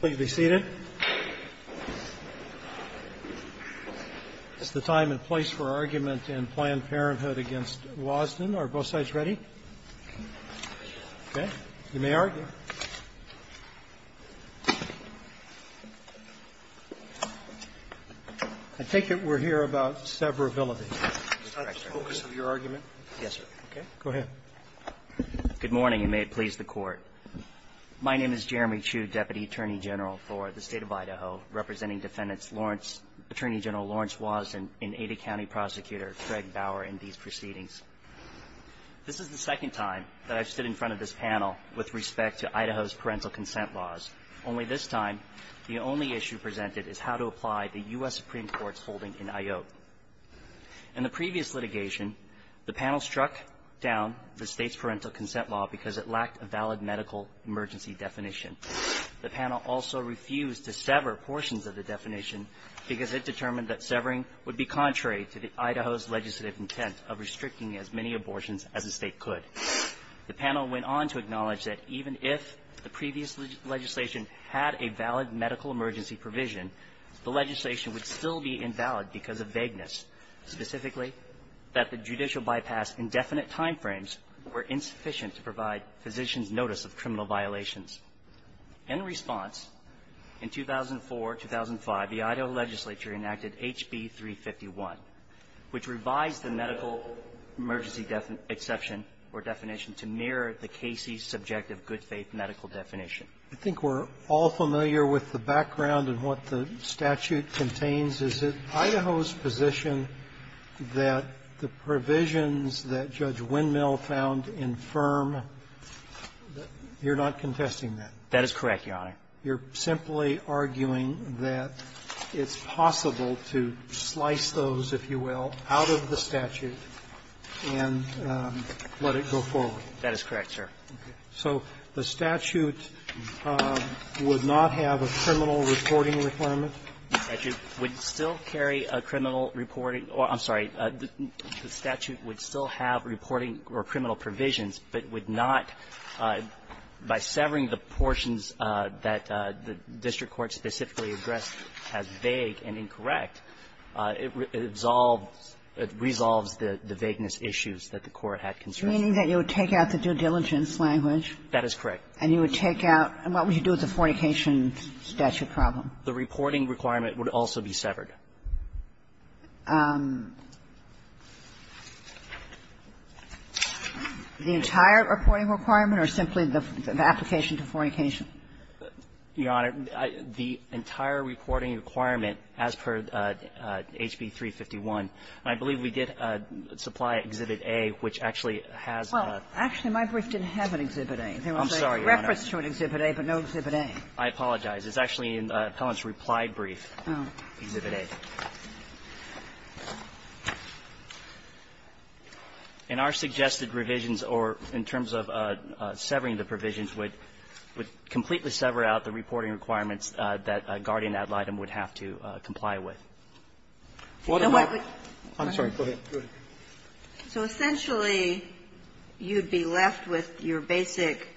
Please be seated. It's the time and place for argument in Planned Parenthood against Wasden. Are both sides ready? Okay. You may argue. I take it we're here about severability. Is that the focus of your argument? Yes, sir. Okay. Go ahead. Good morning, and may it please the Court. My name is Jeremy Chu, Deputy Attorney General for the State of Idaho, representing Defendants Lawrence, Attorney General Lawrence Wasden, and Ada County Prosecutor Craig Bauer in these proceedings. This is the second time that I've stood in front of this panel with respect to Idaho's parental consent laws. Only this time, the only issue presented is how to apply the U.S. Supreme Court's holding in IOP. In the previous litigation, the panel struck down the State's parental consent law because it lacked a valid medical emergency definition. The panel also refused to sever portions of the definition because it determined that severing would be contrary to Idaho's legislative intent of restricting as many abortions as the State could. The panel went on to acknowledge that even if the previous legislation had a valid medical emergency provision, the legislation would still be invalid because of vagueness, specifically that the judicial bypass indefinite timeframes were insufficient to provide physicians' notice of criminal violations. In response, in 2004, 2005, the Idaho legislature enacted H.B. 351, which revised the medical emergency exception or definition to mirror the Casey's subjective good-faith medical definition. Sotomayor, I think we're all familiar with the background and what the statute contains. Is it Idaho's position that the provisions that Judge Windmill found infirm, that you're not contesting that? That is correct, Your Honor. You're simply arguing that it's possible to slice those, if you will, out of the statute and let it go forward? That is correct, sir. Okay. So the statute would not have a criminal reporting requirement? The statute would still carry a criminal reporting or the statute would still have reporting or criminal provisions, but would not, by severing the portions that the district court specifically addressed as vague and incorrect, it resolves the vagueness issues that the Court had concern. Meaning that you would take out the due diligence language? That is correct. And you would take out the fornication statute problem? The reporting requirement would also be severed. The entire reporting requirement or simply the application to fornication? Your Honor, the entire reporting requirement as per H.B. 351, I believe we did supply Exhibit A, which actually has a --- Well, actually, my brief didn't have an Exhibit A. I'm sorry, Your Honor. There was a reference to an Exhibit A, but no Exhibit A. I apologize. It's actually in the appellant's reply brief, Exhibit A. In our suggested revisions or in terms of severing the provisions, would completely sever out the reporting requirements that a guardian ad litem would have to comply with. So what would--? I'm sorry. Go ahead. Go ahead. So essentially, you'd be left with your basic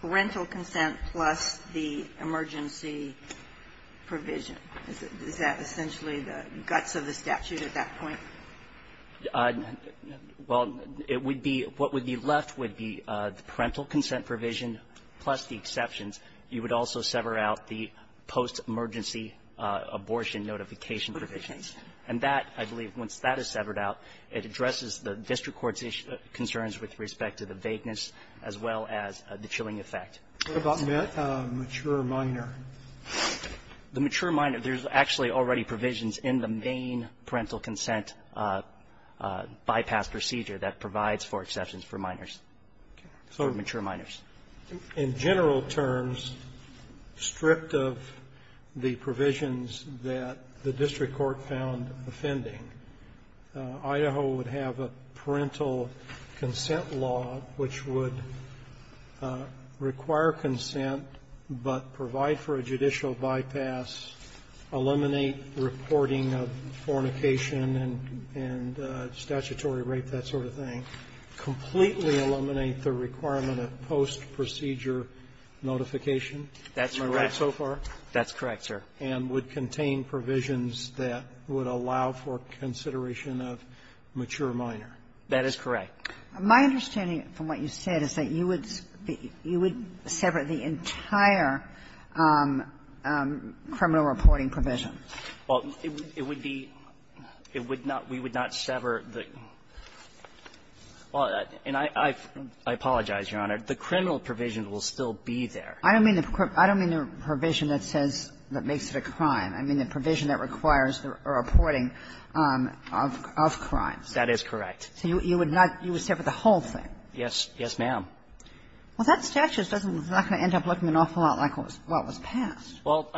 parental consent plus the emergency provision. Is that essentially the guts of the statute at that point? Well, it would be what would be left would be the parental consent provision plus the exceptions. You would also sever out the post-emergency abortion notification provisions. And that, I believe, once that is severed out, it addresses the district court's concerns with respect to the vagueness as well as the chilling effect. What about mature minor? The mature minor, there's actually already provisions in the main parental consent bypass procedure that provides for exceptions for minors, for mature minors. In general terms, stripped of the provisions that the district court found offending, Idaho would have a parental consent law which would require consent but provide for a judicial bypass, eliminate reporting of fornication and statutory rape, that would allow for post-procedure notification. That's correct. Am I right so far? That's correct, sir. And would contain provisions that would allow for consideration of mature minor. That is correct. My understanding from what you said is that you would sever the entire criminal reporting provision. Well, it would be we would not sever the – and I apologize, Your Honor. The criminal provision will still be there. I don't mean the provision that says that makes it a crime. I mean the provision that requires the reporting of crimes. That is correct. So you would not – you would sever the whole thing? Yes. Yes, ma'am. Well, that statute doesn't – it's not going to end up looking an awful lot like what was passed. Well,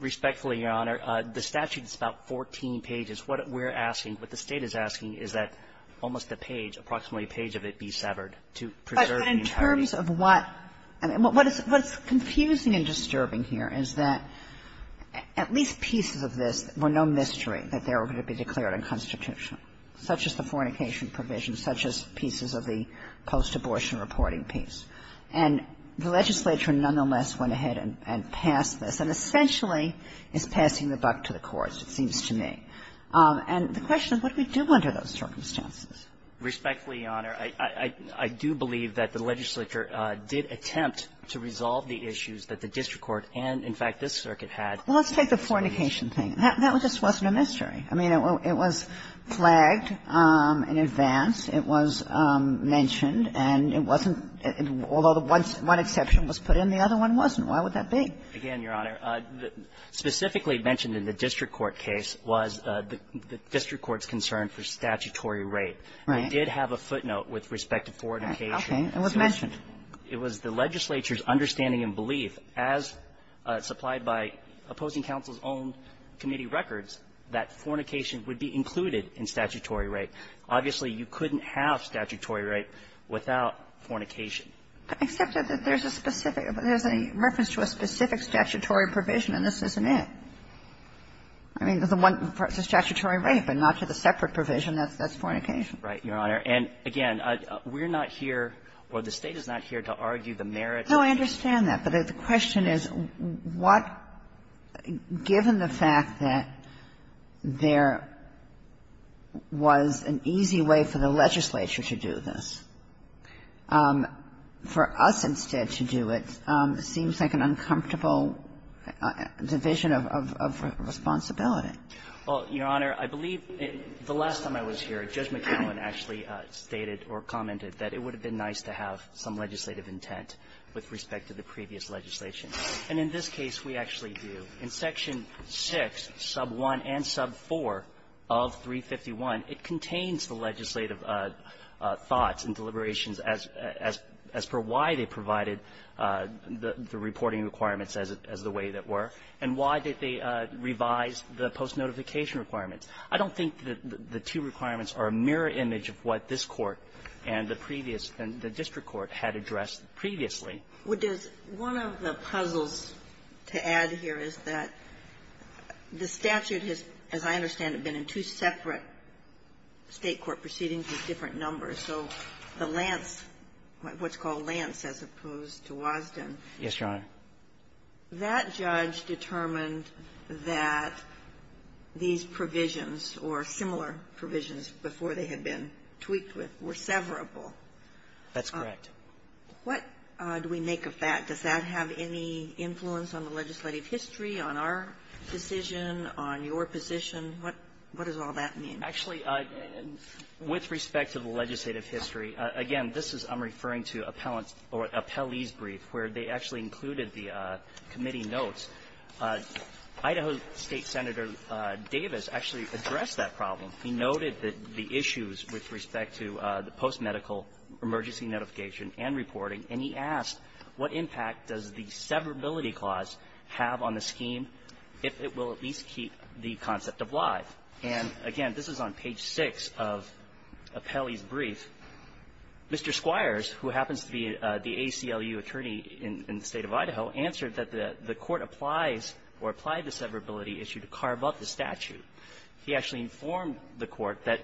respectfully, Your Honor, the statute is about 14 pages. What we're asking, what the State is asking is that almost a page, approximately a page of it be severed to preserve the entirety. But in terms of what – I mean, what is confusing and disturbing here is that at least pieces of this were no mystery, that they were going to be declared unconstitutional, such as the fornication provision, such as pieces of the post-abortion reporting piece. And the legislature nonetheless went ahead and passed this, and essentially is passing the buck to the courts, it seems to me. And the question is, what do we do under those circumstances? Respectfully, Your Honor, I do believe that the legislature did attempt to resolve the issues that the district court and, in fact, this circuit had. Well, let's take the fornication thing. That just wasn't a mystery. I mean, it was flagged in advance. It was mentioned, and it wasn't – although one exception was put in, the other one wasn't. Why would that be? Again, Your Honor, specifically mentioned in the district court case was the district court's concern for statutory rape. And it did have a footnote with respect to fornication. It was mentioned. It was the legislature's understanding and belief, as supplied by opposing counsel's own committee records, that fornication would be included in statutory rape. Obviously, you couldn't have statutory rape without fornication. Except that there's a specific – there's a reference to a specific statutory provision, and this isn't it. I mean, the one for statutory rape and not to the separate provision, that's fornication. Right, Your Honor. And, again, we're not here, or the State is not here, to argue the merits. No, I understand that. But the question is, what – given the fact that there was an easy way for the legislature to do this, for us instead to do it seems like an uncomfortable division of the responsibility. Well, Your Honor, I believe the last time I was here, Judge McKinlan actually stated or commented that it would have been nice to have some legislative intent with respect to the previous legislation. And in this case, we actually do. In Section 6, sub 1 and sub 4 of 351, it contains the legislative thoughts and deliberations as – as per why they provided the reporting requirements as it – as the way that were, and why did they, as far as I'm concerned, revise the post-notification requirements. I don't think that the two requirements are a mirror image of what this Court and the previous – and the district court had addressed previously. Well, does – one of the puzzles to add here is that the statute has, as I understand it, been in two separate State court proceedings with different numbers. So the Lance – what's called Lance as opposed to Wasden. Yes, Your Honor. That judge determined that these provisions or similar provisions before they had been tweaked with were severable. That's correct. What do we make of that? Does that have any influence on the legislative history, on our decision, on your position? What – what does all that mean? Actually, with respect to the legislative history, again, this is – I'm referring to appellant's – or appellee's brief where they actually included the committee notes. Idaho State Senator Davis actually addressed that problem. He noted the issues with respect to the post-medical emergency notification and reporting, and he asked what impact does the severability clause have on the scheme if it will at least keep the concept of live. And, again, this is on page 6 of appellee's brief. Mr. Squires, who happens to be the ACLU attorney in the State of Idaho, answered that the court applies or applied the severability issue to carve up the statute. He actually informed the court that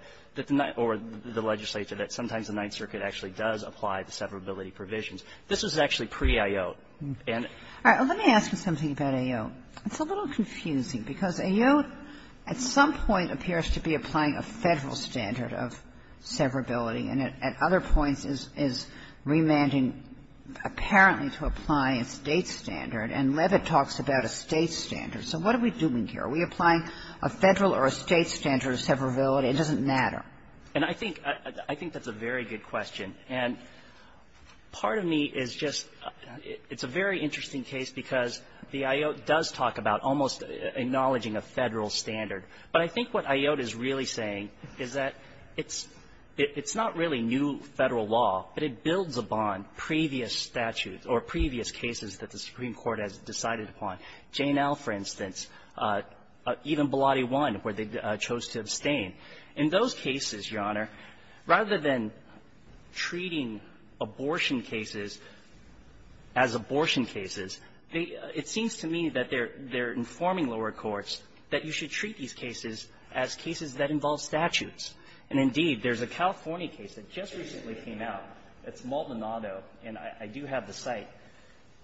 – or the legislature that sometimes the Ninth Circuit actually does apply the severability provisions. This is actually pre-ayote. And – All right. Let me ask you something about ayote. It's a little confusing, because ayote at some point appears to be applying a Federal standard of severability, and at other points is remanding apparently to apply a State standard. And Levitt talks about a State standard. So what are we doing here? Are we applying a Federal or a State standard of severability? It doesn't matter. And I think – I think that's a very good question. And part of me is just – it's a very interesting case, because the ayote does talk about almost acknowledging a Federal standard. But I think what ayote is really saying is that it's – it's not really new Federal law, but it builds upon previous statutes or previous cases that the Supreme Court has decided upon. Jane L., for instance, even Blotty I, where they chose to abstain. In those cases, Your Honor, rather than treating abortion cases as abortion cases, they – it seems to me that they're – they're informing lower courts that you should treat these cases as cases that involve statutes. And indeed, there's a California case that just recently came out. It's Maldonado, and I do have the site,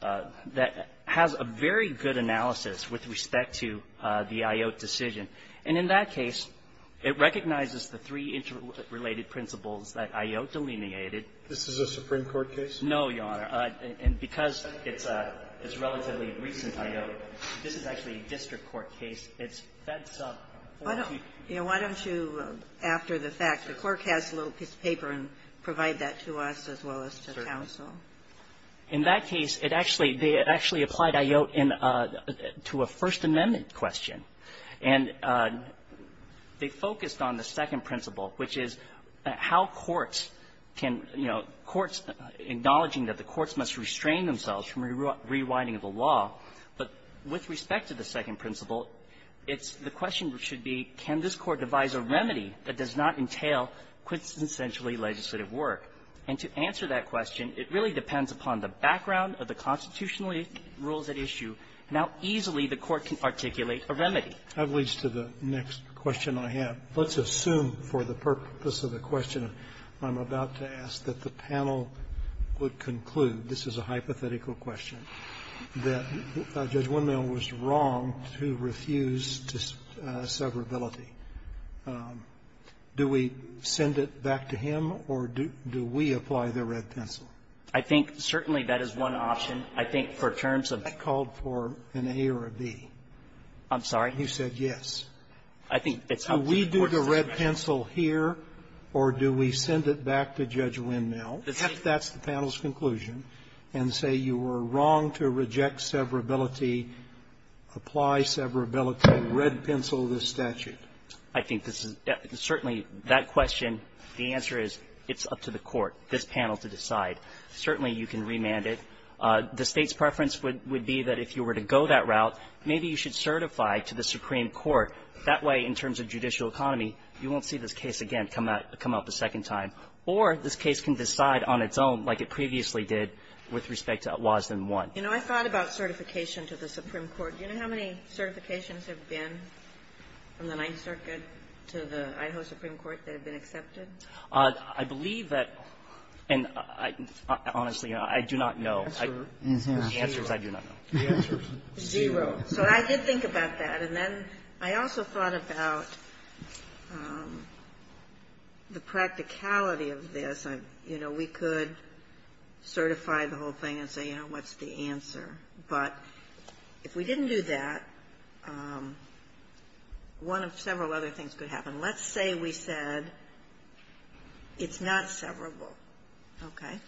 that has a very good analysis with respect to the ayote decision. And in that case, it recognizes the three interrelated principles that ayote delineated. This is a Supreme Court case? No, Your Honor. And because it's a – it's a relatively recent ayote, this is actually a district court case. It's fed sub 40 to 50. Why don't you, after the fact, the Court has a little piece of paper, and provide that to us as well as to counsel. In that case, it actually – they actually applied ayote in – to a First Amendment question. And they focused on the second principle, which is how courts can – you know, courts – acknowledging that the courts must restrain themselves from rewinding the law. But with respect to the second principle, it's – the question should be, can this Court devise a remedy that does not entail quintessentially legislative work? And to answer that question, it really depends upon the background of the constitutional rules at issue. Now, easily, the Court can articulate a remedy. That leads to the next question I have. Let's assume, for the purpose of the question I'm about to ask, that the panel would conclude – this is a hypothetical question – that Judge Winmale was wrong to refuse severability. Do we send it back to him, or do we apply the red pencil? I think, certainly, that is one option. I think for terms of – I called for an A or a B. I'm sorry? You said yes. I think it's up to the Court to decide. Do we do the red pencil here, or do we send it back to Judge Winmale, if that's the panel's conclusion, and say you were wrong to reject severability, apply severability, red pencil this statute? I think this is – certainly, that question, the answer is, it's up to the Court, this panel, to decide. Certainly, you can remand it. The State's preference would be that if you were to go that route, maybe you should certify to the Supreme Court. That way, in terms of judicial economy, you won't see this case again come out the second time. Or this case can decide on its own, like it previously did with respect to Wasden 1. You know, I thought about certification to the Supreme Court. Do you know how many certifications have been from the Ninth Circuit to the Idaho Supreme Court that have been accepted? I believe that – and honestly, I do not know. The answer is I do not know. Zero. So I did think about that. And then I also thought about the practicality of this. You know, we could certify the whole thing and say, you know, what's the answer? But if we didn't do that, one of several other things could happen. Let's say we said it's not severable, okay?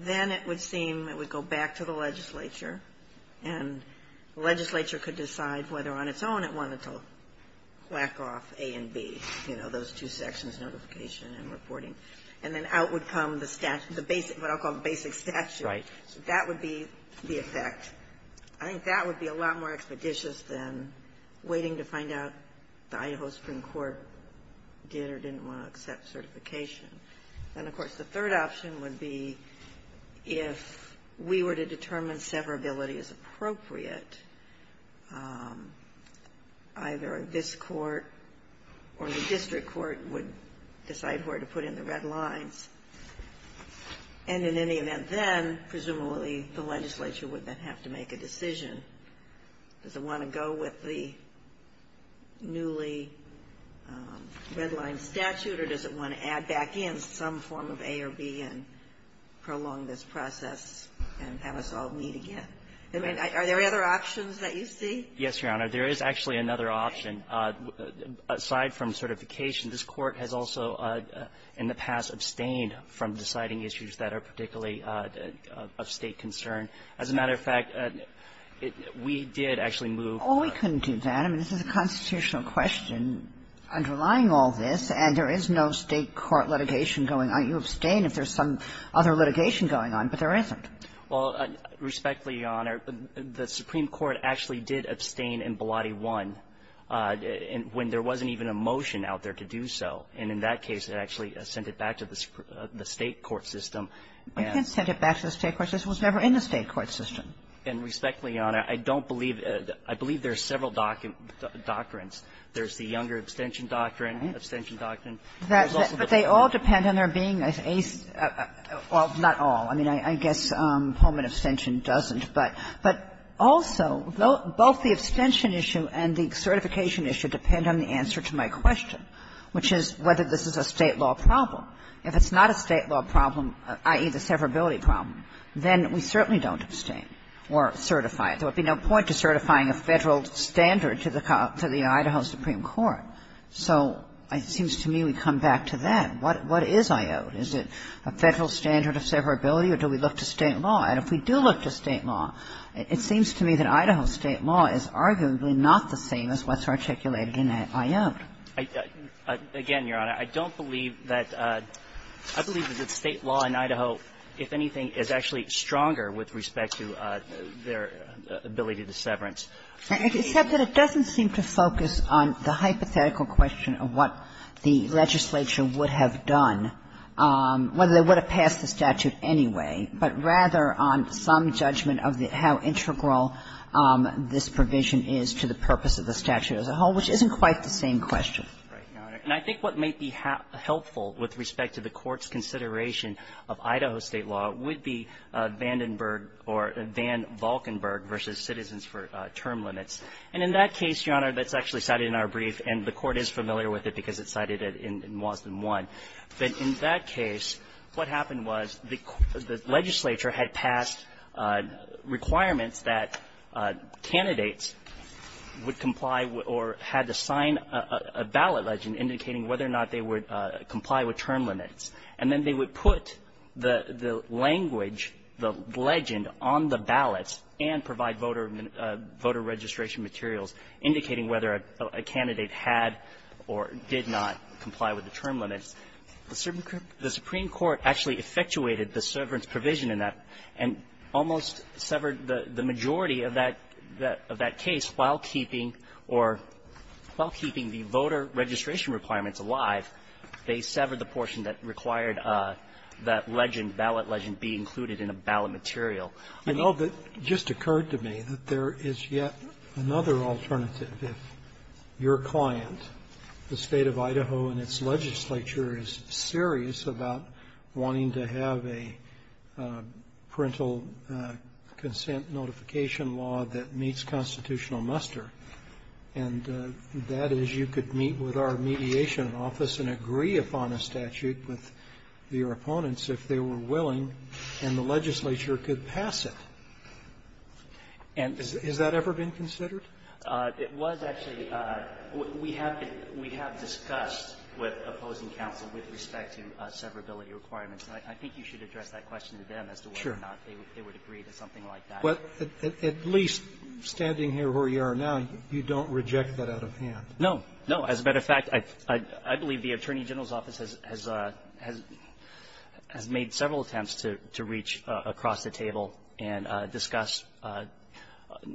Then it would seem it would go back to the legislature, and the legislature could decide whether on its own it wanted to whack off A and B, you know, those two sections, notification and reporting. And then out would come the statute, the basic – what I'll call the basic statute. Right. So that would be the effect. I think that would be a lot more expeditious than waiting to find out the Idaho Supreme Court did or didn't want to accept certification. And, of course, the third option would be if we were to determine severability as appropriate, either this court or the district court would decide where to put in the red lines. And in any event then, presumably, the legislature would then have to make a decision. Does it want to go with the newly redlined statute, or does it want to add back in some form of A or B and prolong this process and have us all meet again? I mean, are there other options that you see? Yes, Your Honor. There is actually another option. Aside from certification, this Court has also in the past abstained from deciding issues that are particularly of State concern. As a matter of fact, we did actually move to the other option. Well, we couldn't do that. I mean, this is a constitutional question underlying all this, and there is no State court litigation going on. You abstain if there's some other litigation going on, but there isn't. Well, respectfully, Your Honor, the Supreme Court actually did abstain in Ballotti 1 when there wasn't even a motion out there to do so. And in that case, it actually sent it back to the State court system. It did send it back to the State court system. This was never in the State court system. And respectfully, Your Honor, I don't believe there's several doctrines. There's the Younger abstention doctrine, abstention doctrine. But they all depend on there being a, well, not all. I mean, I guess Pullman abstention doesn't. But also, both the abstention issue and the certification issue depend on the answer to my question, which is whether this is a State law problem. If it's not a State law problem, i.e., the severability problem, then we certainly don't abstain or certify it. There would be no point to certifying a Federal standard to the Idaho Supreme Court. So it seems to me we come back to that. What is I.O.A.T.? Is it a Federal standard of severability, or do we look to State law? And if we do look to State law, it seems to me that Idaho State law is arguably not the same as what's articulated in I.O.A.T. Again, Your Honor, I don't believe that the State law in Idaho, if anything, is actually stronger with respect to their ability to severance. It doesn't seem to focus on the hypothetical question of what the legislature would have done, whether they would have passed the statute anyway, but rather on some judgment of how integral this provision is to the purpose of the statute as a whole, which isn't quite the same question. Right, Your Honor. And I think what might be helpful with respect to the Court's consideration of Idaho State law would be Vandenberg or Van Valkenburg v. Citizens for Term Limits. And in that case, Your Honor, that's actually cited in our brief, and the Court is familiar with it because it's cited in Wasden 1, that in that case, what happened was the legislature had passed requirements that candidates would comply with the term limits, or had to sign a ballot legend indicating whether or not they would comply with term limits, and then they would put the language, the legend, on the ballots and provide voter registration materials indicating whether a candidate had or did not comply with the term limits. The Supreme Court actually effectuated the severance provision in that and almost severed the majority of that case while keeping or not keeping the term limits. So while keeping the voter registration requirements alive, they severed the portion that required that legend, ballot legend, be included in a ballot material. I know that it just occurred to me that there is yet another alternative if your client, the State of Idaho and its legislature, is serious about wanting to have a parental consent notification law that meets constitutional muster, and the State of Idaho, and that is you could meet with our mediation office and agree upon a statute with your opponents if they were willing, and the legislature could pass it. Has that ever been considered? It was actually. We have discussed with opposing counsel with respect to severability requirements, and I think you should address that question to them as to whether or not they would agree to something like that. But at least standing here where you are now, you don't reject that out of hand. No. No. As a matter of fact, I believe the Attorney General's office has made several attempts to reach across the table and discuss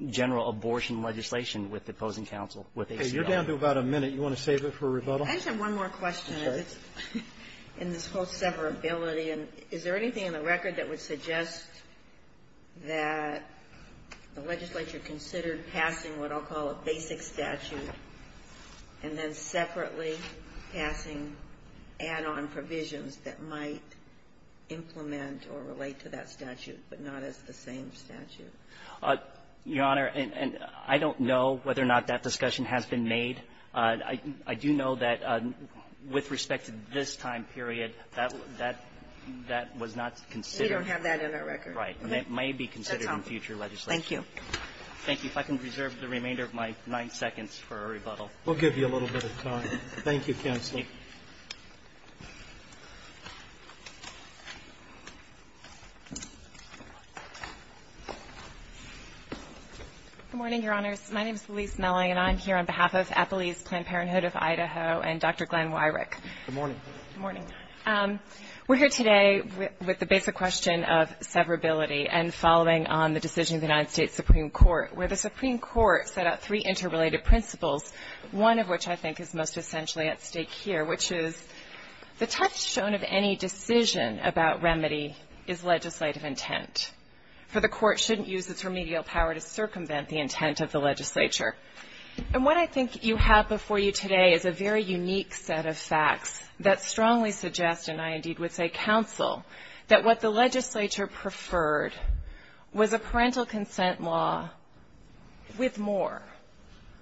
general abortion legislation with opposing counsel. Okay. You're down to about a minute. You want to save it for rebuttal? I just have one more question. Okay. In this whole severability, is there anything in the record that would suggest that the legislature considered passing what I'll call a basic statute and then separately passing add-on provisions that might implement or relate to that statute, but not as the same statute? Your Honor, I don't know whether or not that discussion has been made. I do know that with respect to this time period, that was not considered. We don't have that in our record. Right. And it may be considered in future legislation. Thank you. Thank you. If I can reserve the remainder of my nine seconds for a rebuttal. We'll give you a little bit of time. Thank you, Counselor. Good morning, Your Honors. My name is Louise Mellie, and I'm here on behalf of Applelease Planned Parenthood of Idaho and Dr. Glenn Wyrick. Good morning. Good morning. We're here today with the basic question of severability and following on the decision of the United States Supreme Court, where the Supreme Court set out three interrelated principles, one of which I think is most essentially at stake here, which is the touchstone of any decision about remedy is legislative intent, for the court shouldn't use its remedial power to circumvent the intent of the legislature. And what I think you have before you today is a very unique set of facts that strongly suggest, and I indeed would say counsel, that what the legislature preferred was a parental consent law with more,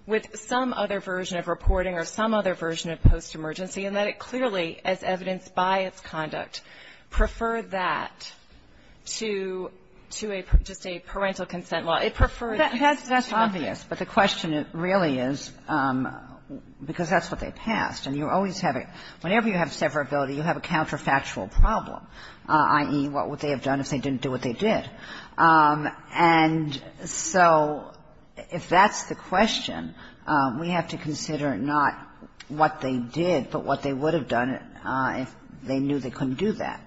with some other version of reporting or some other version of post-emergency and that it clearly, as evidenced by its conduct, preferred that to a just a parental consent law. It preferred this to a... That's obvious, but the question really is, because that's what they passed, and you always have a, whenever you have severability, you have a counterfactual problem, i.e., what would they have done if they didn't do what they did. And so if that's the question, we have to consider not what they did, but what they would have done if they knew they couldn't do that.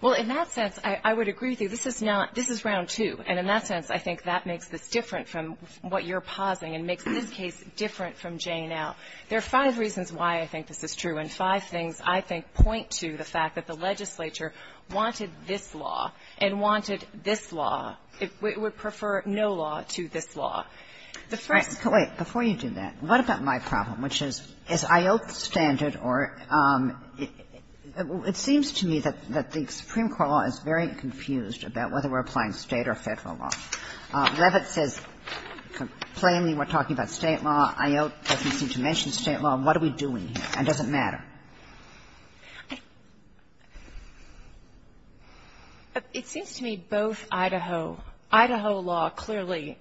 Well, in that sense, I would agree with you. This is not, this is round two, and in that sense, I think that makes this different from what you're pausing and makes this case different from J now. There are five reasons why I think this is true, and five things, I think, point to the fact that the legislature wanted this law and wanted this law. It would prefer no law to this law. The first... Kagan. Wait. Before you do that, what about my problem, which is, is IOT the standard or, it seems to me that the Supreme Court law is very confused about whether we're applying State or Federal law. Levitt says, plainly, we're talking about State law, IOT doesn't seem to mention State law, and what are we doing here, and does it matter? It seems to me both Idaho, Idaho law clearly,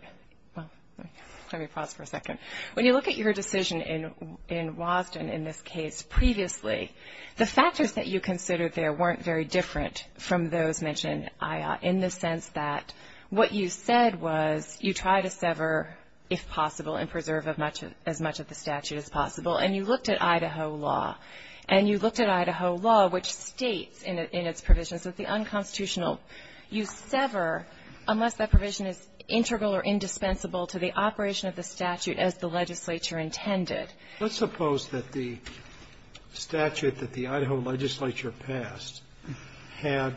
well, let me pause for a second. When you look at your decision in Wasden in this case previously, the factors that you considered there weren't very different from those mentioned in the sense that what you said was you try to sever, if possible, and preserve as much of the statute as possible, and you looked at Idaho law, and you looked at Idaho law, which states in its provisions that the unconstitutional, you sever unless that provision is integral or indispensable to the operation of the statute as the legislature intended. Let's suppose that the statute that the Idaho legislature passed had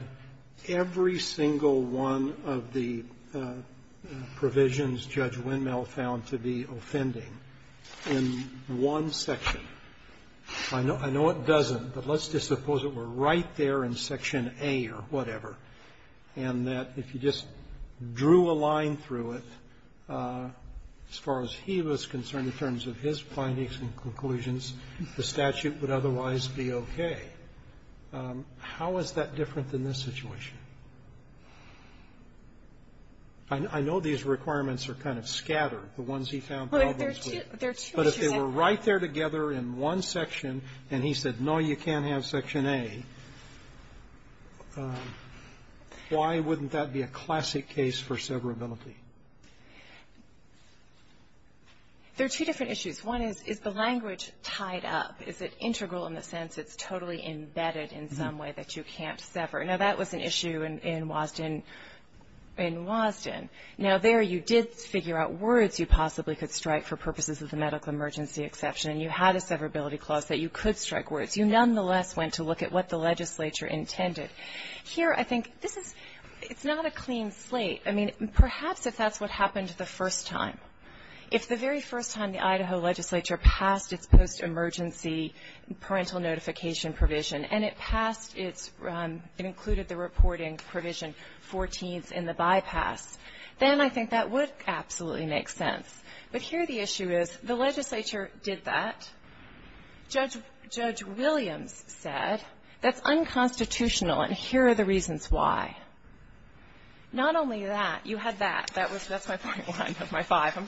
every single one of the provisions Judge Windmill found to be offending in one section. I know it doesn't, but let's just suppose it were right there in Section A or whatever, and that if you just drew a line through it, as far as he was concerned in terms of his findings and conclusions, the statute would otherwise be okay. How is that different than this situation? I know these requirements are kind of scattered, the ones he found problems with. But if they were right there together in one section, and he said, no, you can't have Section A, why wouldn't that be a classic case for severability? There are two different issues. One is, is the language tied up? Is it integral in the sense it's totally embedded in some way that you can't sever? Now, that was an issue in Wasden. Now, there you did figure out words you possibly could strike for purposes of the medical emergency exception, and you had a severability clause that you could strike words. You nonetheless went to look at what the legislature intended. Here, I think this is not a clean slate. I mean, perhaps if that's what happened the first time, if the very first time the Idaho legislature passed its post-emergency parental notification provision, and it passed, it included the reporting provision 14th in the bypass, then I think that would absolutely make sense. But here the issue is, the legislature did that. Judge Williams said, that's unconstitutional, and here are the reasons why. Not only that, you had that, that's my point one of my five.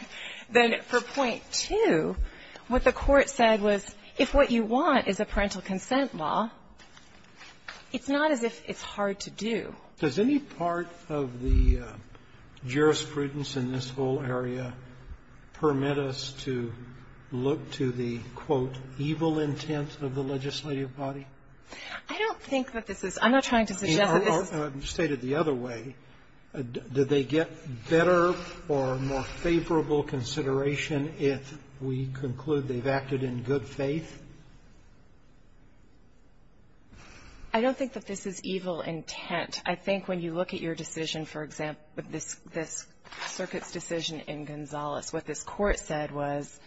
Then for point two, what the Court said was, if what you want is a parental consent law, it's not as if it's hard to do. Does any part of the jurisprudence in this whole area permit us to look to the, quote, evil intent of the legislative body? I don't think that this is. I'm not trying to suggest that this is. Roberts, stated the other way, did they get better or more favorable consideration if we conclude they've acted in good faith? I don't think that this is evil intent. I think when you look at your decision, for example, this circuit's decision in Gonzales, what this Court said was,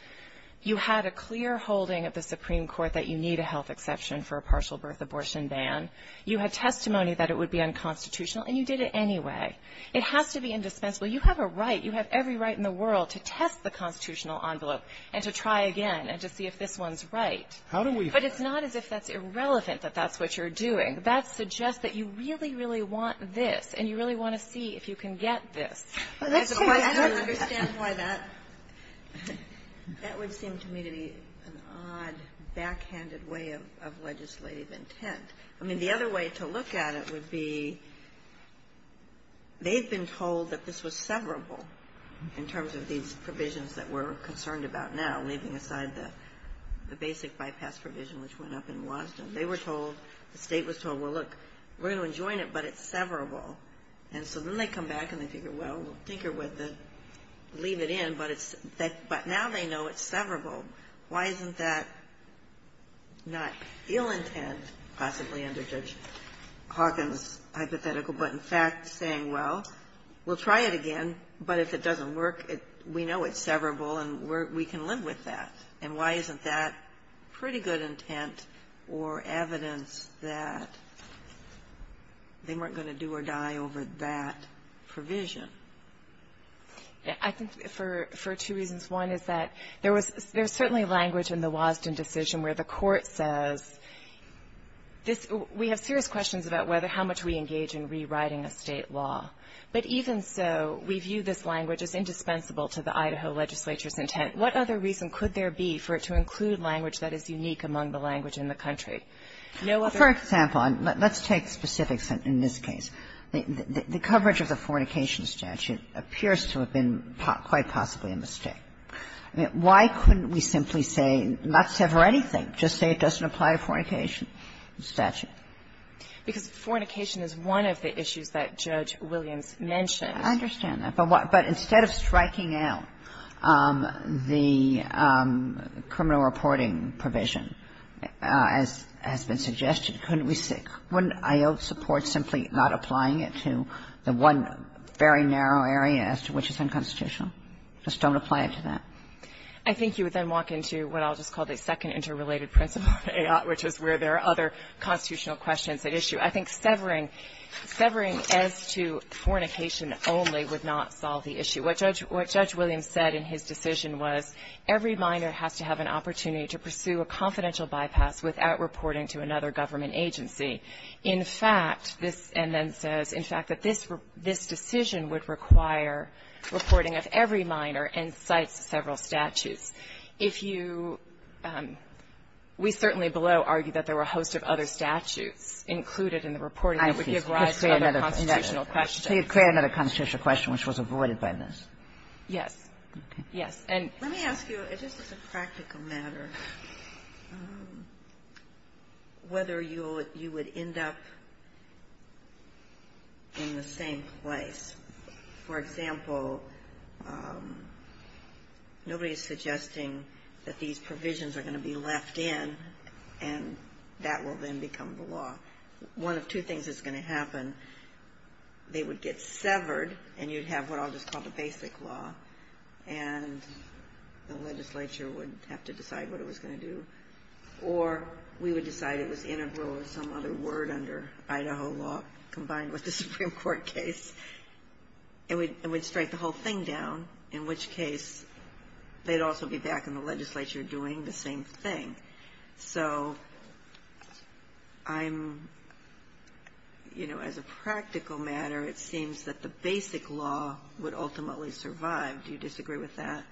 you had a clear holding of the Supreme Court that you need a health exception for a partial birth abortion ban. You had testimony that it would be unconstitutional, and you did it anyway. It has to be indispensable. You have a right. You have every right in the world to test the constitutional envelope and to try again and to see if this one's right. But it's not as if that's irrelevant, that that's what you're doing. That suggests that you really, really want this, and you really want to see if you can get this. As opposed to the other question, I don't understand why that would seem to me to be an odd, backhanded way of legislative intent. I mean, the other way to look at it would be, they've been told that this was severable in terms of these provisions that we're concerned about now, leaving aside the basic bypass provision, which went up in Washington. They were told, the state was told, well, look, we're going to enjoin it, but it's severable. And so then they come back and they figure, well, we'll tinker with it, leave it in, but now they know it's severable. Why isn't that not ill intent, possibly under Judge Hawkins' hypothetical, but in fact saying, well, we'll try it again, but if it doesn't work, we know it's severable and we can live with that? And why isn't that pretty good intent or evidence that they weren't going to do or die over that provision? I think for two reasons. One is that there was certainly language in the Wasden decision where the court says, we have serious questions about whether how much we engage in rewriting a state law. But even so, we view this language as indispensable to the Idaho legislature's intent. What other reason could there be for it to include language that is unique among the language in the country? For example, let's take specifics in this case. The coverage of the fornication statute appears to have been quite possibly a mistake. Why couldn't we simply say, not sever anything, just say it doesn't apply to fornication statute? Because fornication is one of the issues that Judge Williams mentioned. I understand that. But instead of striking out the criminal reporting provision, as has been suggested, couldn't we simply not apply it to the one very narrow area as to which is unconstitutional? Just don't apply it to that. I think you would then walk into what I'll just call the second interrelated principle of AOT, which is where there are other constitutional questions at issue. I think severing as to fornication only would not solve the issue. What Judge Williams said in his decision was, every minor has to have an opportunity to pursue a confidential bypass without reporting to another government agency. In fact, this end then says, in fact, that this decision would require reporting of every minor and cites several statutes. If you we certainly below argue that there were a host of other statutes included in the reporting that would give rise to other constitutional questions. So you'd create another constitutional question, which was avoided by this. Yes. Yes. And let me ask you, just as a practical matter, whether you would end up in the same place. For example, nobody is suggesting that these provisions are going to be left in, and that will then become the law. One of two things is going to happen. They would get severed, and you'd have what I'll just call the basic law. And the legislature would have to decide what it was going to do. Or we would decide it was integral of some other word under Idaho law combined with the Supreme Court case, and we'd strike the whole thing down, in which case they'd also be back in the legislature doing the same thing. So I'm, you know, as a practical matter, it seems that the basic law would ultimately survive. Do you disagree with that?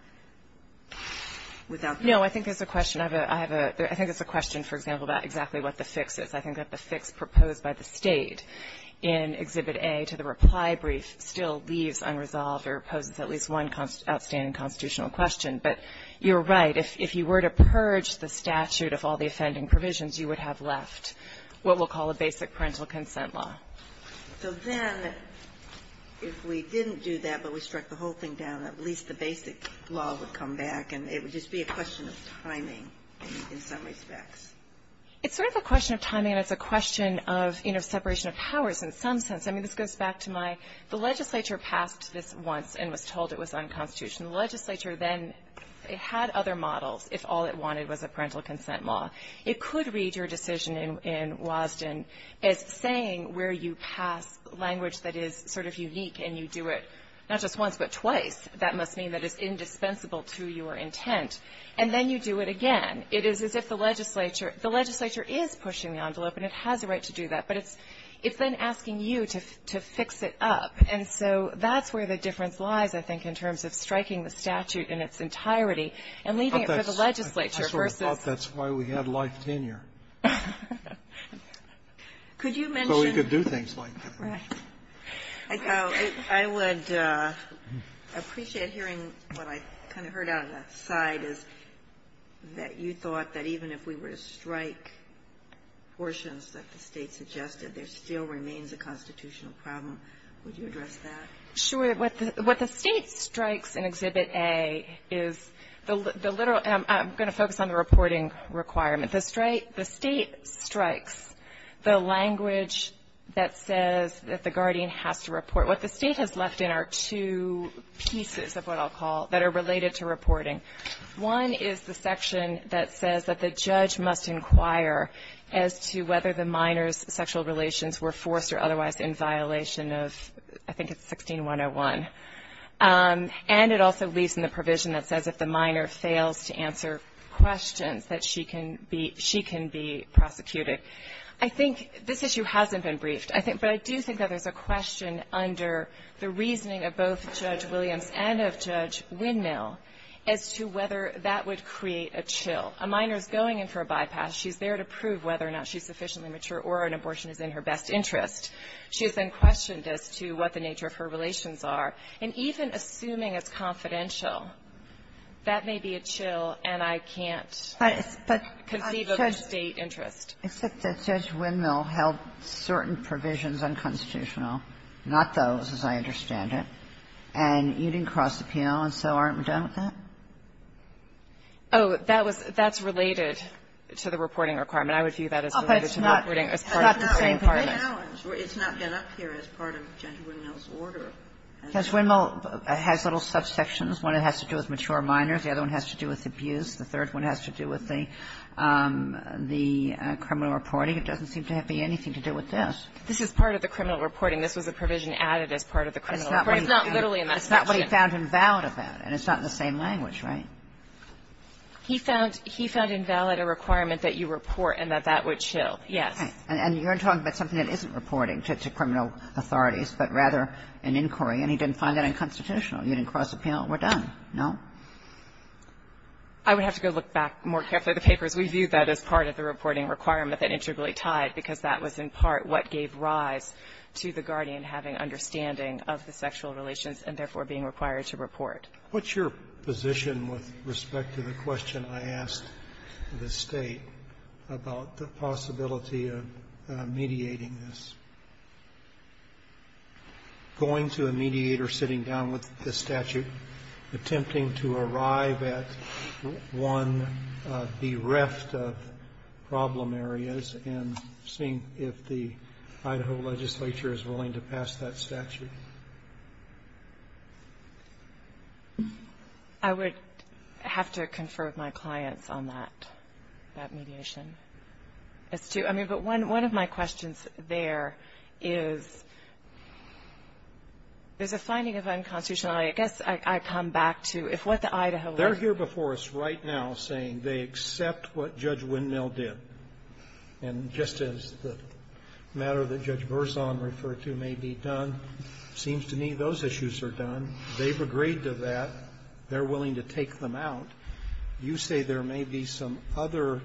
Without the question. No, I think there's a question. I have a, I think there's a question, for example, about exactly what the fix is. I think that the fix proposed by the State in Exhibit A to the reply brief still leaves unresolved or poses at least one outstanding constitutional question. But you're right. If you were to purge the statute of all the offending provisions, you would have left what we'll call a basic parental consent law. So then, if we didn't do that, but we struck the whole thing down, at least the basic law would come back. And it would just be a question of timing in some respects. It's sort of a question of timing, and it's a question of, you know, separation of powers in some sense. I mean, this goes back to my the legislature passed this once and was told it was unconstitutional. The legislature then had other models if all it wanted was a parental consent law. It could read your decision in Wasden as saying where you pass language that is sort of unique and you do it not just once but twice. That must mean that it's indispensable to your intent. And then you do it again. It is as if the legislature, the legislature is pushing the envelope, and it has a right to do that. But it's then asking you to fix it up. And so that's where the difference lies, I think, in terms of striking the statute in its entirety and leaving it for the legislature versus the legislature. That's what happened with my life tenure. Could you mention So, you could do things like that. Right. I would appreciate hearing what I kind of heard out of the side is that you thought that even if we were to strike portions that the State suggested, there still remains a constitutional problem. Would you address that? Sure. What the State strikes in Exhibit A is the literal, and I'm going to focus on the reporting requirement. The State strikes the language that says that the guardian has to report. What the State has left in are two pieces of what I'll call, that are related to reporting. One is the section that says that the judge must inquire as to whether the minor is sufficiently mature or an abortion is in her best interest. And it also leaves in the provision that says if the minor fails to answer questions that she can be prosecuted. I think this issue hasn't been briefed, but I do think that there's a question under the reasoning of both Judge Williams and of Judge Windmill as to whether that would create a chill. A minor is going in for a bypass. She's there to prove whether or not she's sufficiently mature or an abortion is in her best interest. She has been questioned as to what the nature of her relations are. And even assuming it's confidential, that may be a chill, and I can't conceive of a State interest. It's like Judge Windmill held certain provisions unconstitutional, not those, as I understand it, and you didn't cross the penal, and so aren't we done with that? Oh, that's related to the reporting requirement. I would view that as related to the reporting as part of the same requirement. It's not been up here as part of Judge Windmill's order. Judge Windmill has little subsections. One has to do with mature minors. The other one has to do with abuse. The third one has to do with the criminal reporting. It doesn't seem to have anything to do with this. This is part of the criminal reporting. This was a provision added as part of the criminal reporting. It's not literally in that section. It's not what he found invalid about it, and it's not in the same language, right? He found invalid a requirement that you report and that that would chill, yes. And you're talking about something that isn't reporting to criminal authorities, but rather an inquiry, and he didn't find that unconstitutional. You didn't cross the penal. We're done, no? I would have to go look back more carefully at the papers. We view that as part of the reporting requirement that integrally tied, because that was in part what gave rise to the guardian having understanding of the sexual relations and therefore being required to report. What's your position with respect to the question I asked the State about the possibility of mediating this, going to a mediator sitting down with the statute, attempting to arrive at one of the rest of problem areas and seeing if the Idaho legislature is willing to pass that statute? I would have to confer with my clients on that, that mediation. But one of my questions there is, there's a finding of unconstitutionality. I guess I come back to if what the Idaho legislature ---- They're here before us right now saying they accept what Judge Windmill did, and just as the matter that Judge Verzon referred to may be done, it seems to me those issues are done. They've agreed to that. They're willing to take them out. You say there may be some other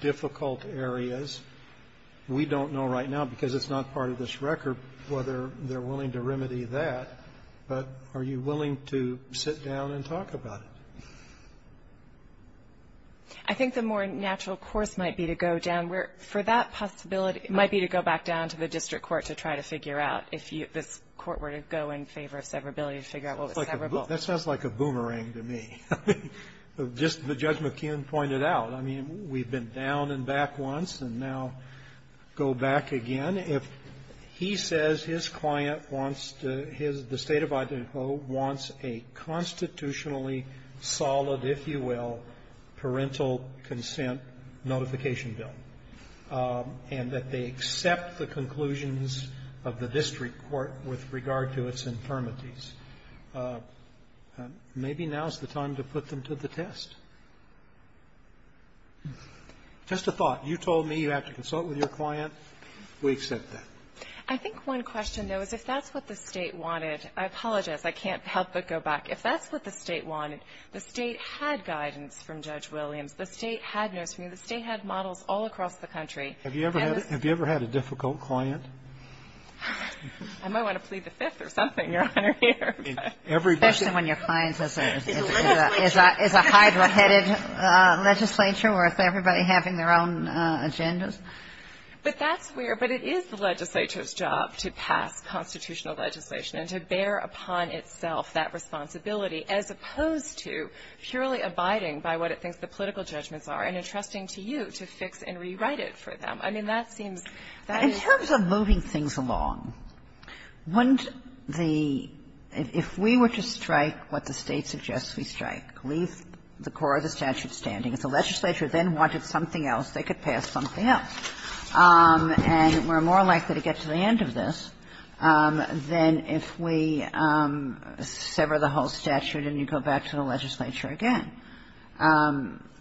difficult areas. We don't know right now, because it's not part of this record, whether they're willing to remedy that. But are you willing to sit down and talk about it? I think the more natural course might be to go down where for that possibility it might be to go back down to the district court to try to figure out if this court were to go in favor of severability to figure out what was severable. That sounds like a boomerang to me. I mean, just as Judge McKeon pointed out, I mean, we've been down and back once, and now go back again. If he says his client wants to his ---- the State of Idaho wants a constitutionally solid, if you will, parental consent notification bill, and that they accept the conclusions of the district court with regard to its infirmities, maybe now is the time to put them to the test. Just a thought. You told me you have to consult with your client. We accept that. I think one question, though, is if that's what the State wanted ---- I apologize. I can't help but go back. If that's what the State wanted, the State had guidance from Judge Williams. The State had notice from you. The State had models all across the country. Have you ever had a difficult client? I might want to plead the Fifth or something, Your Honor, here. Especially when your client is a ---- is a Hydra-headed legislature worth everybody having their own agendas. But that's where ---- but it is the legislature's job to pass constitutional legislation and to bear upon itself that responsibility, as opposed to purely abiding by what it thinks the political judgments are and entrusting to you to fix and rewrite it for them. I mean, that seems ---- Kagan. In terms of moving things along, wouldn't the ---- if we were to strike what the State suggests we strike, leave the core of the statute standing, if the legislature then wanted something else, they could pass something else, and we're more likely to get to the end of this than if we sever the whole statute and you go back to the legislature again.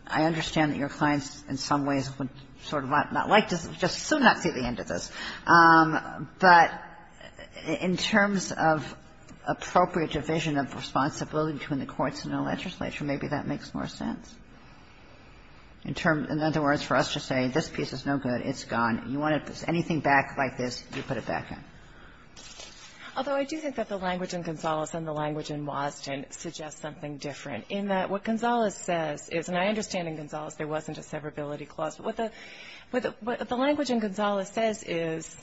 I understand that your clients in some ways would sort of not like to just so not see the end of this. But in terms of appropriate division of responsibility between the courts and the legislature, maybe that makes more sense. In terms of ---- in other words, for us to say this piece is no good, it's gone. You want to ---- anything back like this, you put it back in. Although I do think that the language in Gonzales and the language in Wasden suggest something different, in that what Gonzales says is, and I understand in Gonzales there wasn't a severability clause, but what the language in Gonzales says is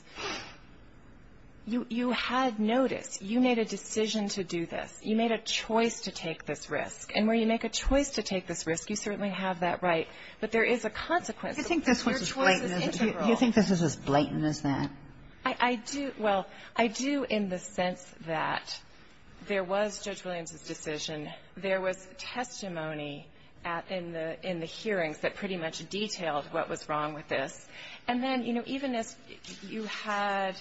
you had notice, you made a decision to do this, you made a choice to take this risk, and where you make a choice to take this risk, you certainly have that right, but there is a consequence. Your choice is integral. You think this was as blatant as that? I do. Well, I do in the sense that there was Judge Williams's decision. There was testimony at the ---- in the hearings that pretty much detailed what was wrong with this. And then, you know, even as you had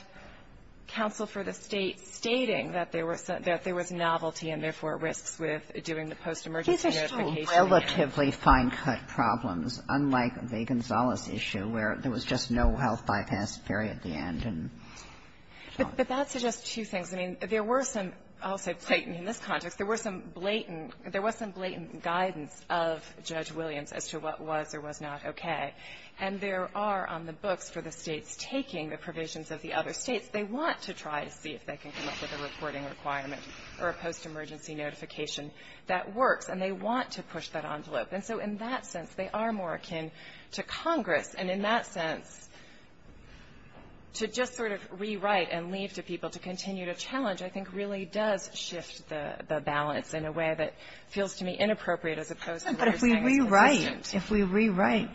counsel for the State stating that there were some ---- that there was novelty and, therefore, risks with doing the post-emergency notification. These are still relatively fine-cut problems, unlike the Gonzales issue where there was just no health bypass theory at the end. But that suggests two things. I mean, there were some ---- I'll say blatant in this context. There were some blatant ---- there was some blatant guidance of Judge Williams as to what was or was not okay, and there are on the books for the States taking the provisions of the other States. They want to try to see if they can come up with a reporting requirement for a post-emergency notification that works, and they want to push that envelope. And so in that sense, they are more akin to Congress. And in that sense, to just sort of rewrite and leave to people to continue to challenge I think really does shift the balance in a way that feels to me inappropriate as opposed to what we're saying is consistent. Kagan. But if we rewrite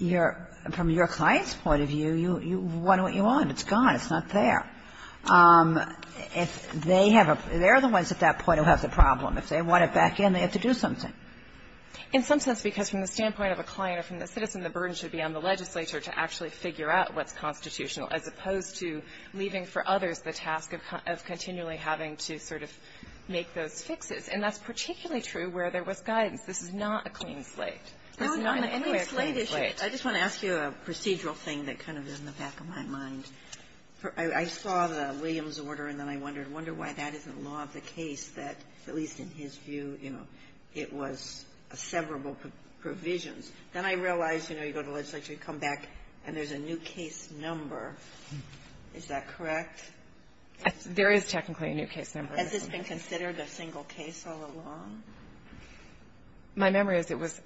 your ---- from your client's point of view, you want what you want. It's gone. It's not there. If they have a ---- they're the ones at that point who have the problem. If they want it back in, they have to do something. In some sense, because from the standpoint of a client or from the citizen, the burden should be on the legislature to actually figure out what's constitutional as opposed to leaving for others the task of continually having to sort of make those fixes. And that's particularly true where there was guidance. This is not a clean slate. It's not in any way a clean slate. I just want to ask you a procedural thing that kind of is in the back of my mind. I saw the Williams order, and then I wondered, I wonder why that isn't law of the case, because it was a severable provisions. Then I realized, you know, you go to legislature, you come back, and there's a new case number. Is that correct? There is technically a new case number. Has this been considered a single case all along? My memory is it was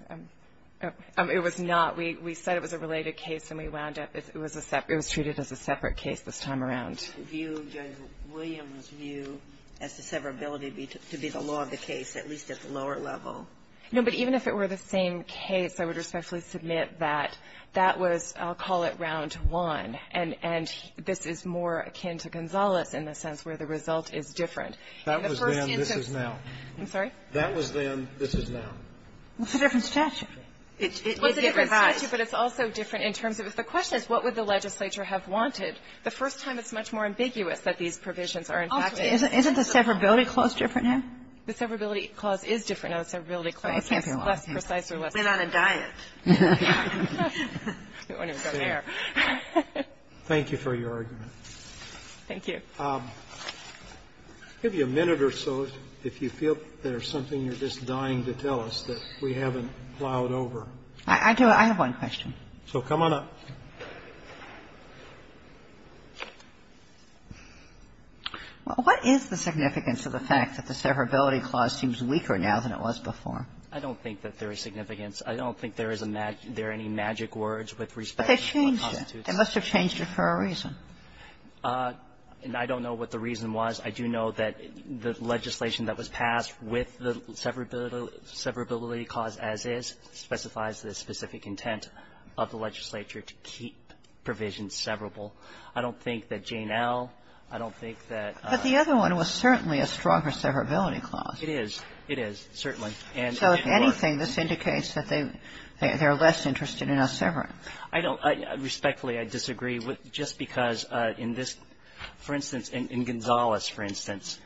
not. We said it was a related case, and we wound up it was a separate ---- it was treated as a separate case this time around. Do you view Judge Williams' view as the severability to be the law of the case, at least at the lower level? No. But even if it were the same case, I would respectfully submit that that was, I'll call it round one, and this is more akin to Gonzales in the sense where the result is different. That was then, this is now. I'm sorry? That was then, this is now. It's a different statute. It may be revised. It's a different statute, but it's also different in terms of, if the question is what would the legislature have wanted, the first time it's much more ambiguous that these provisions are in fact a separate case. Isn't the severability clause different now? The severability clause is different. Now, the severability clause is less precise or less ---- We're on a diet. Thank you for your argument. Thank you. I'll give you a minute or so if you feel there's something you're just dying to tell us that we haven't plowed over. I do. I have one question. So come on up. Well, what is the significance of the fact that the severability clause seems weaker now than it was before? I don't think that there is significance. I don't think there is a magic ---- there are any magic words with respect to the constitution. But they changed it. They must have changed it for a reason. And I don't know what the reason was. I do know that the legislation that was passed with the severability clause as is specifies the specific intent of the legislature to keep provisions severable. I don't think that Jane L. I don't think that ---- But the other one was certainly a stronger severability clause. It is. It is, certainly. And ---- So if anything, this indicates that they're less interested in us severing. I don't ---- respectfully, I disagree with just because in this ---- for instance, in Gonzales, for instance,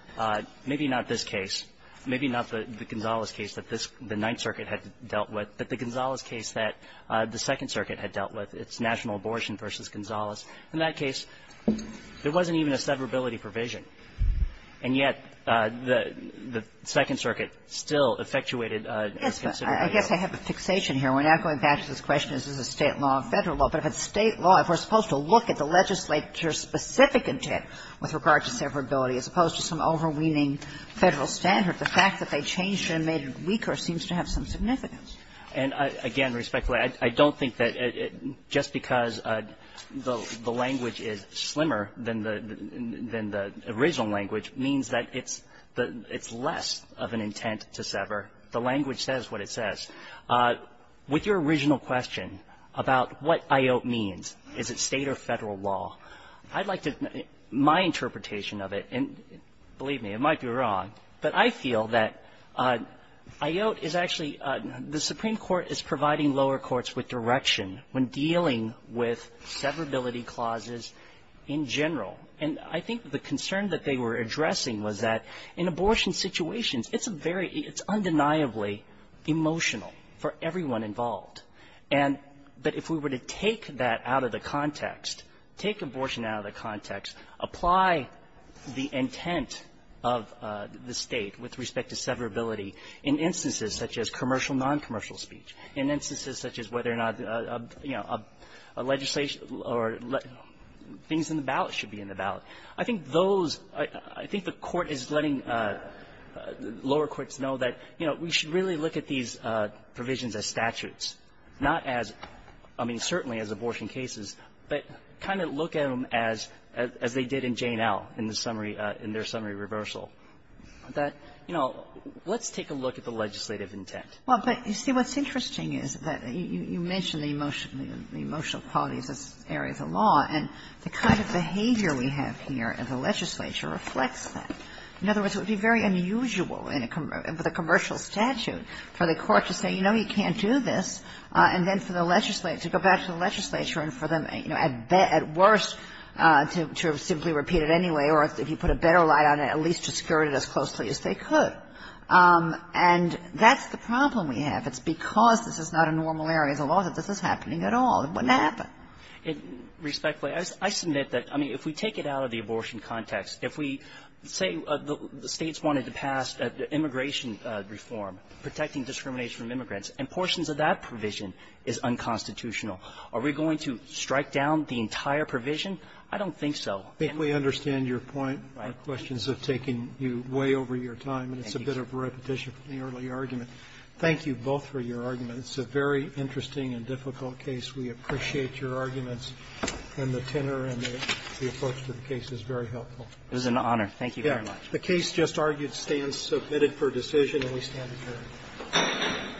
maybe not this case. Maybe not the Gonzales case that this ---- the Ninth Circuit had dealt with. But the Gonzales case that the Second Circuit had dealt with, it's national abortion v. Gonzales, in that case, there wasn't even a severability provision. And yet, the Second Circuit still effectuated a considerable ---- I guess I have a fixation here. We're not going back to this question, is this a State law or a Federal law. But if it's State law, if we're supposed to look at the legislature's specific intent with regard to severability as opposed to some overweening Federal standard, the fact that they changed it and made it weaker seems to have some significance. And again, respectfully, I don't think that just because the language is slimmer than the original language means that it's less of an intent to sever. The language says what it says. With your original question about what IOT means, is it State or Federal law, I'd like to ---- my interpretation of it, and believe me, I might be wrong, but I feel that IOT is actually the Supreme Court is providing lower courts with direction when dealing with severability clauses in general. And I think the concern that they were addressing was that in abortion situations, it's a very ---- it's undeniably emotional for everyone involved. And that if we were to take that out of the context, take abortion out of the context, apply the intent of the State with respect to severability in instances such as commercial and noncommercial speech, in instances such as whether or not, you know, a legislation or things in the ballot should be in the ballot, I think those ---- I think the Court is letting lower courts know that, you know, we should really look at these provisions as statutes, not as ---- I mean, certainly as abortion cases, but kind of look at them as they did in Jane L. in the summary ---- in their summary reversal. That, you know, let's take a look at the legislative intent. Well, but, you see, what's interesting is that you mentioned the emotional qualities as areas of law, and the kind of behavior we have here in the legislature reflects that. In other words, it would be very unusual in a commercial ---- with a commercial statute for the court to say, you know, you can't do this, and then for the legislature to go back to the legislature and for them, you know, at worst, to simply repeat it anyway, or if you put a better light on it, at least to skirt it as closely as they could. And that's the problem we have. It's because this is not a normal area of law that this is happening at all. It wouldn't happen. Respectfully, I submit that, I mean, if we take it out of the abortion context, if we say the States wanted to pass immigration reform, protecting discrimination from immigrants, and portions of that provision is unconstitutional. Are we going to strike down the entire provision? I don't think so. And we understand your point. Right. Our questions have taken you way over your time, and it's a bit of repetition from the early argument. Thank you both for your argument. It's a very interesting and difficult case. We appreciate your arguments, and the tenor and the approach to the case is very helpful. It was an honor. Thank you very much. The case, just argued, stands submitted for decision, and we stand adjourned.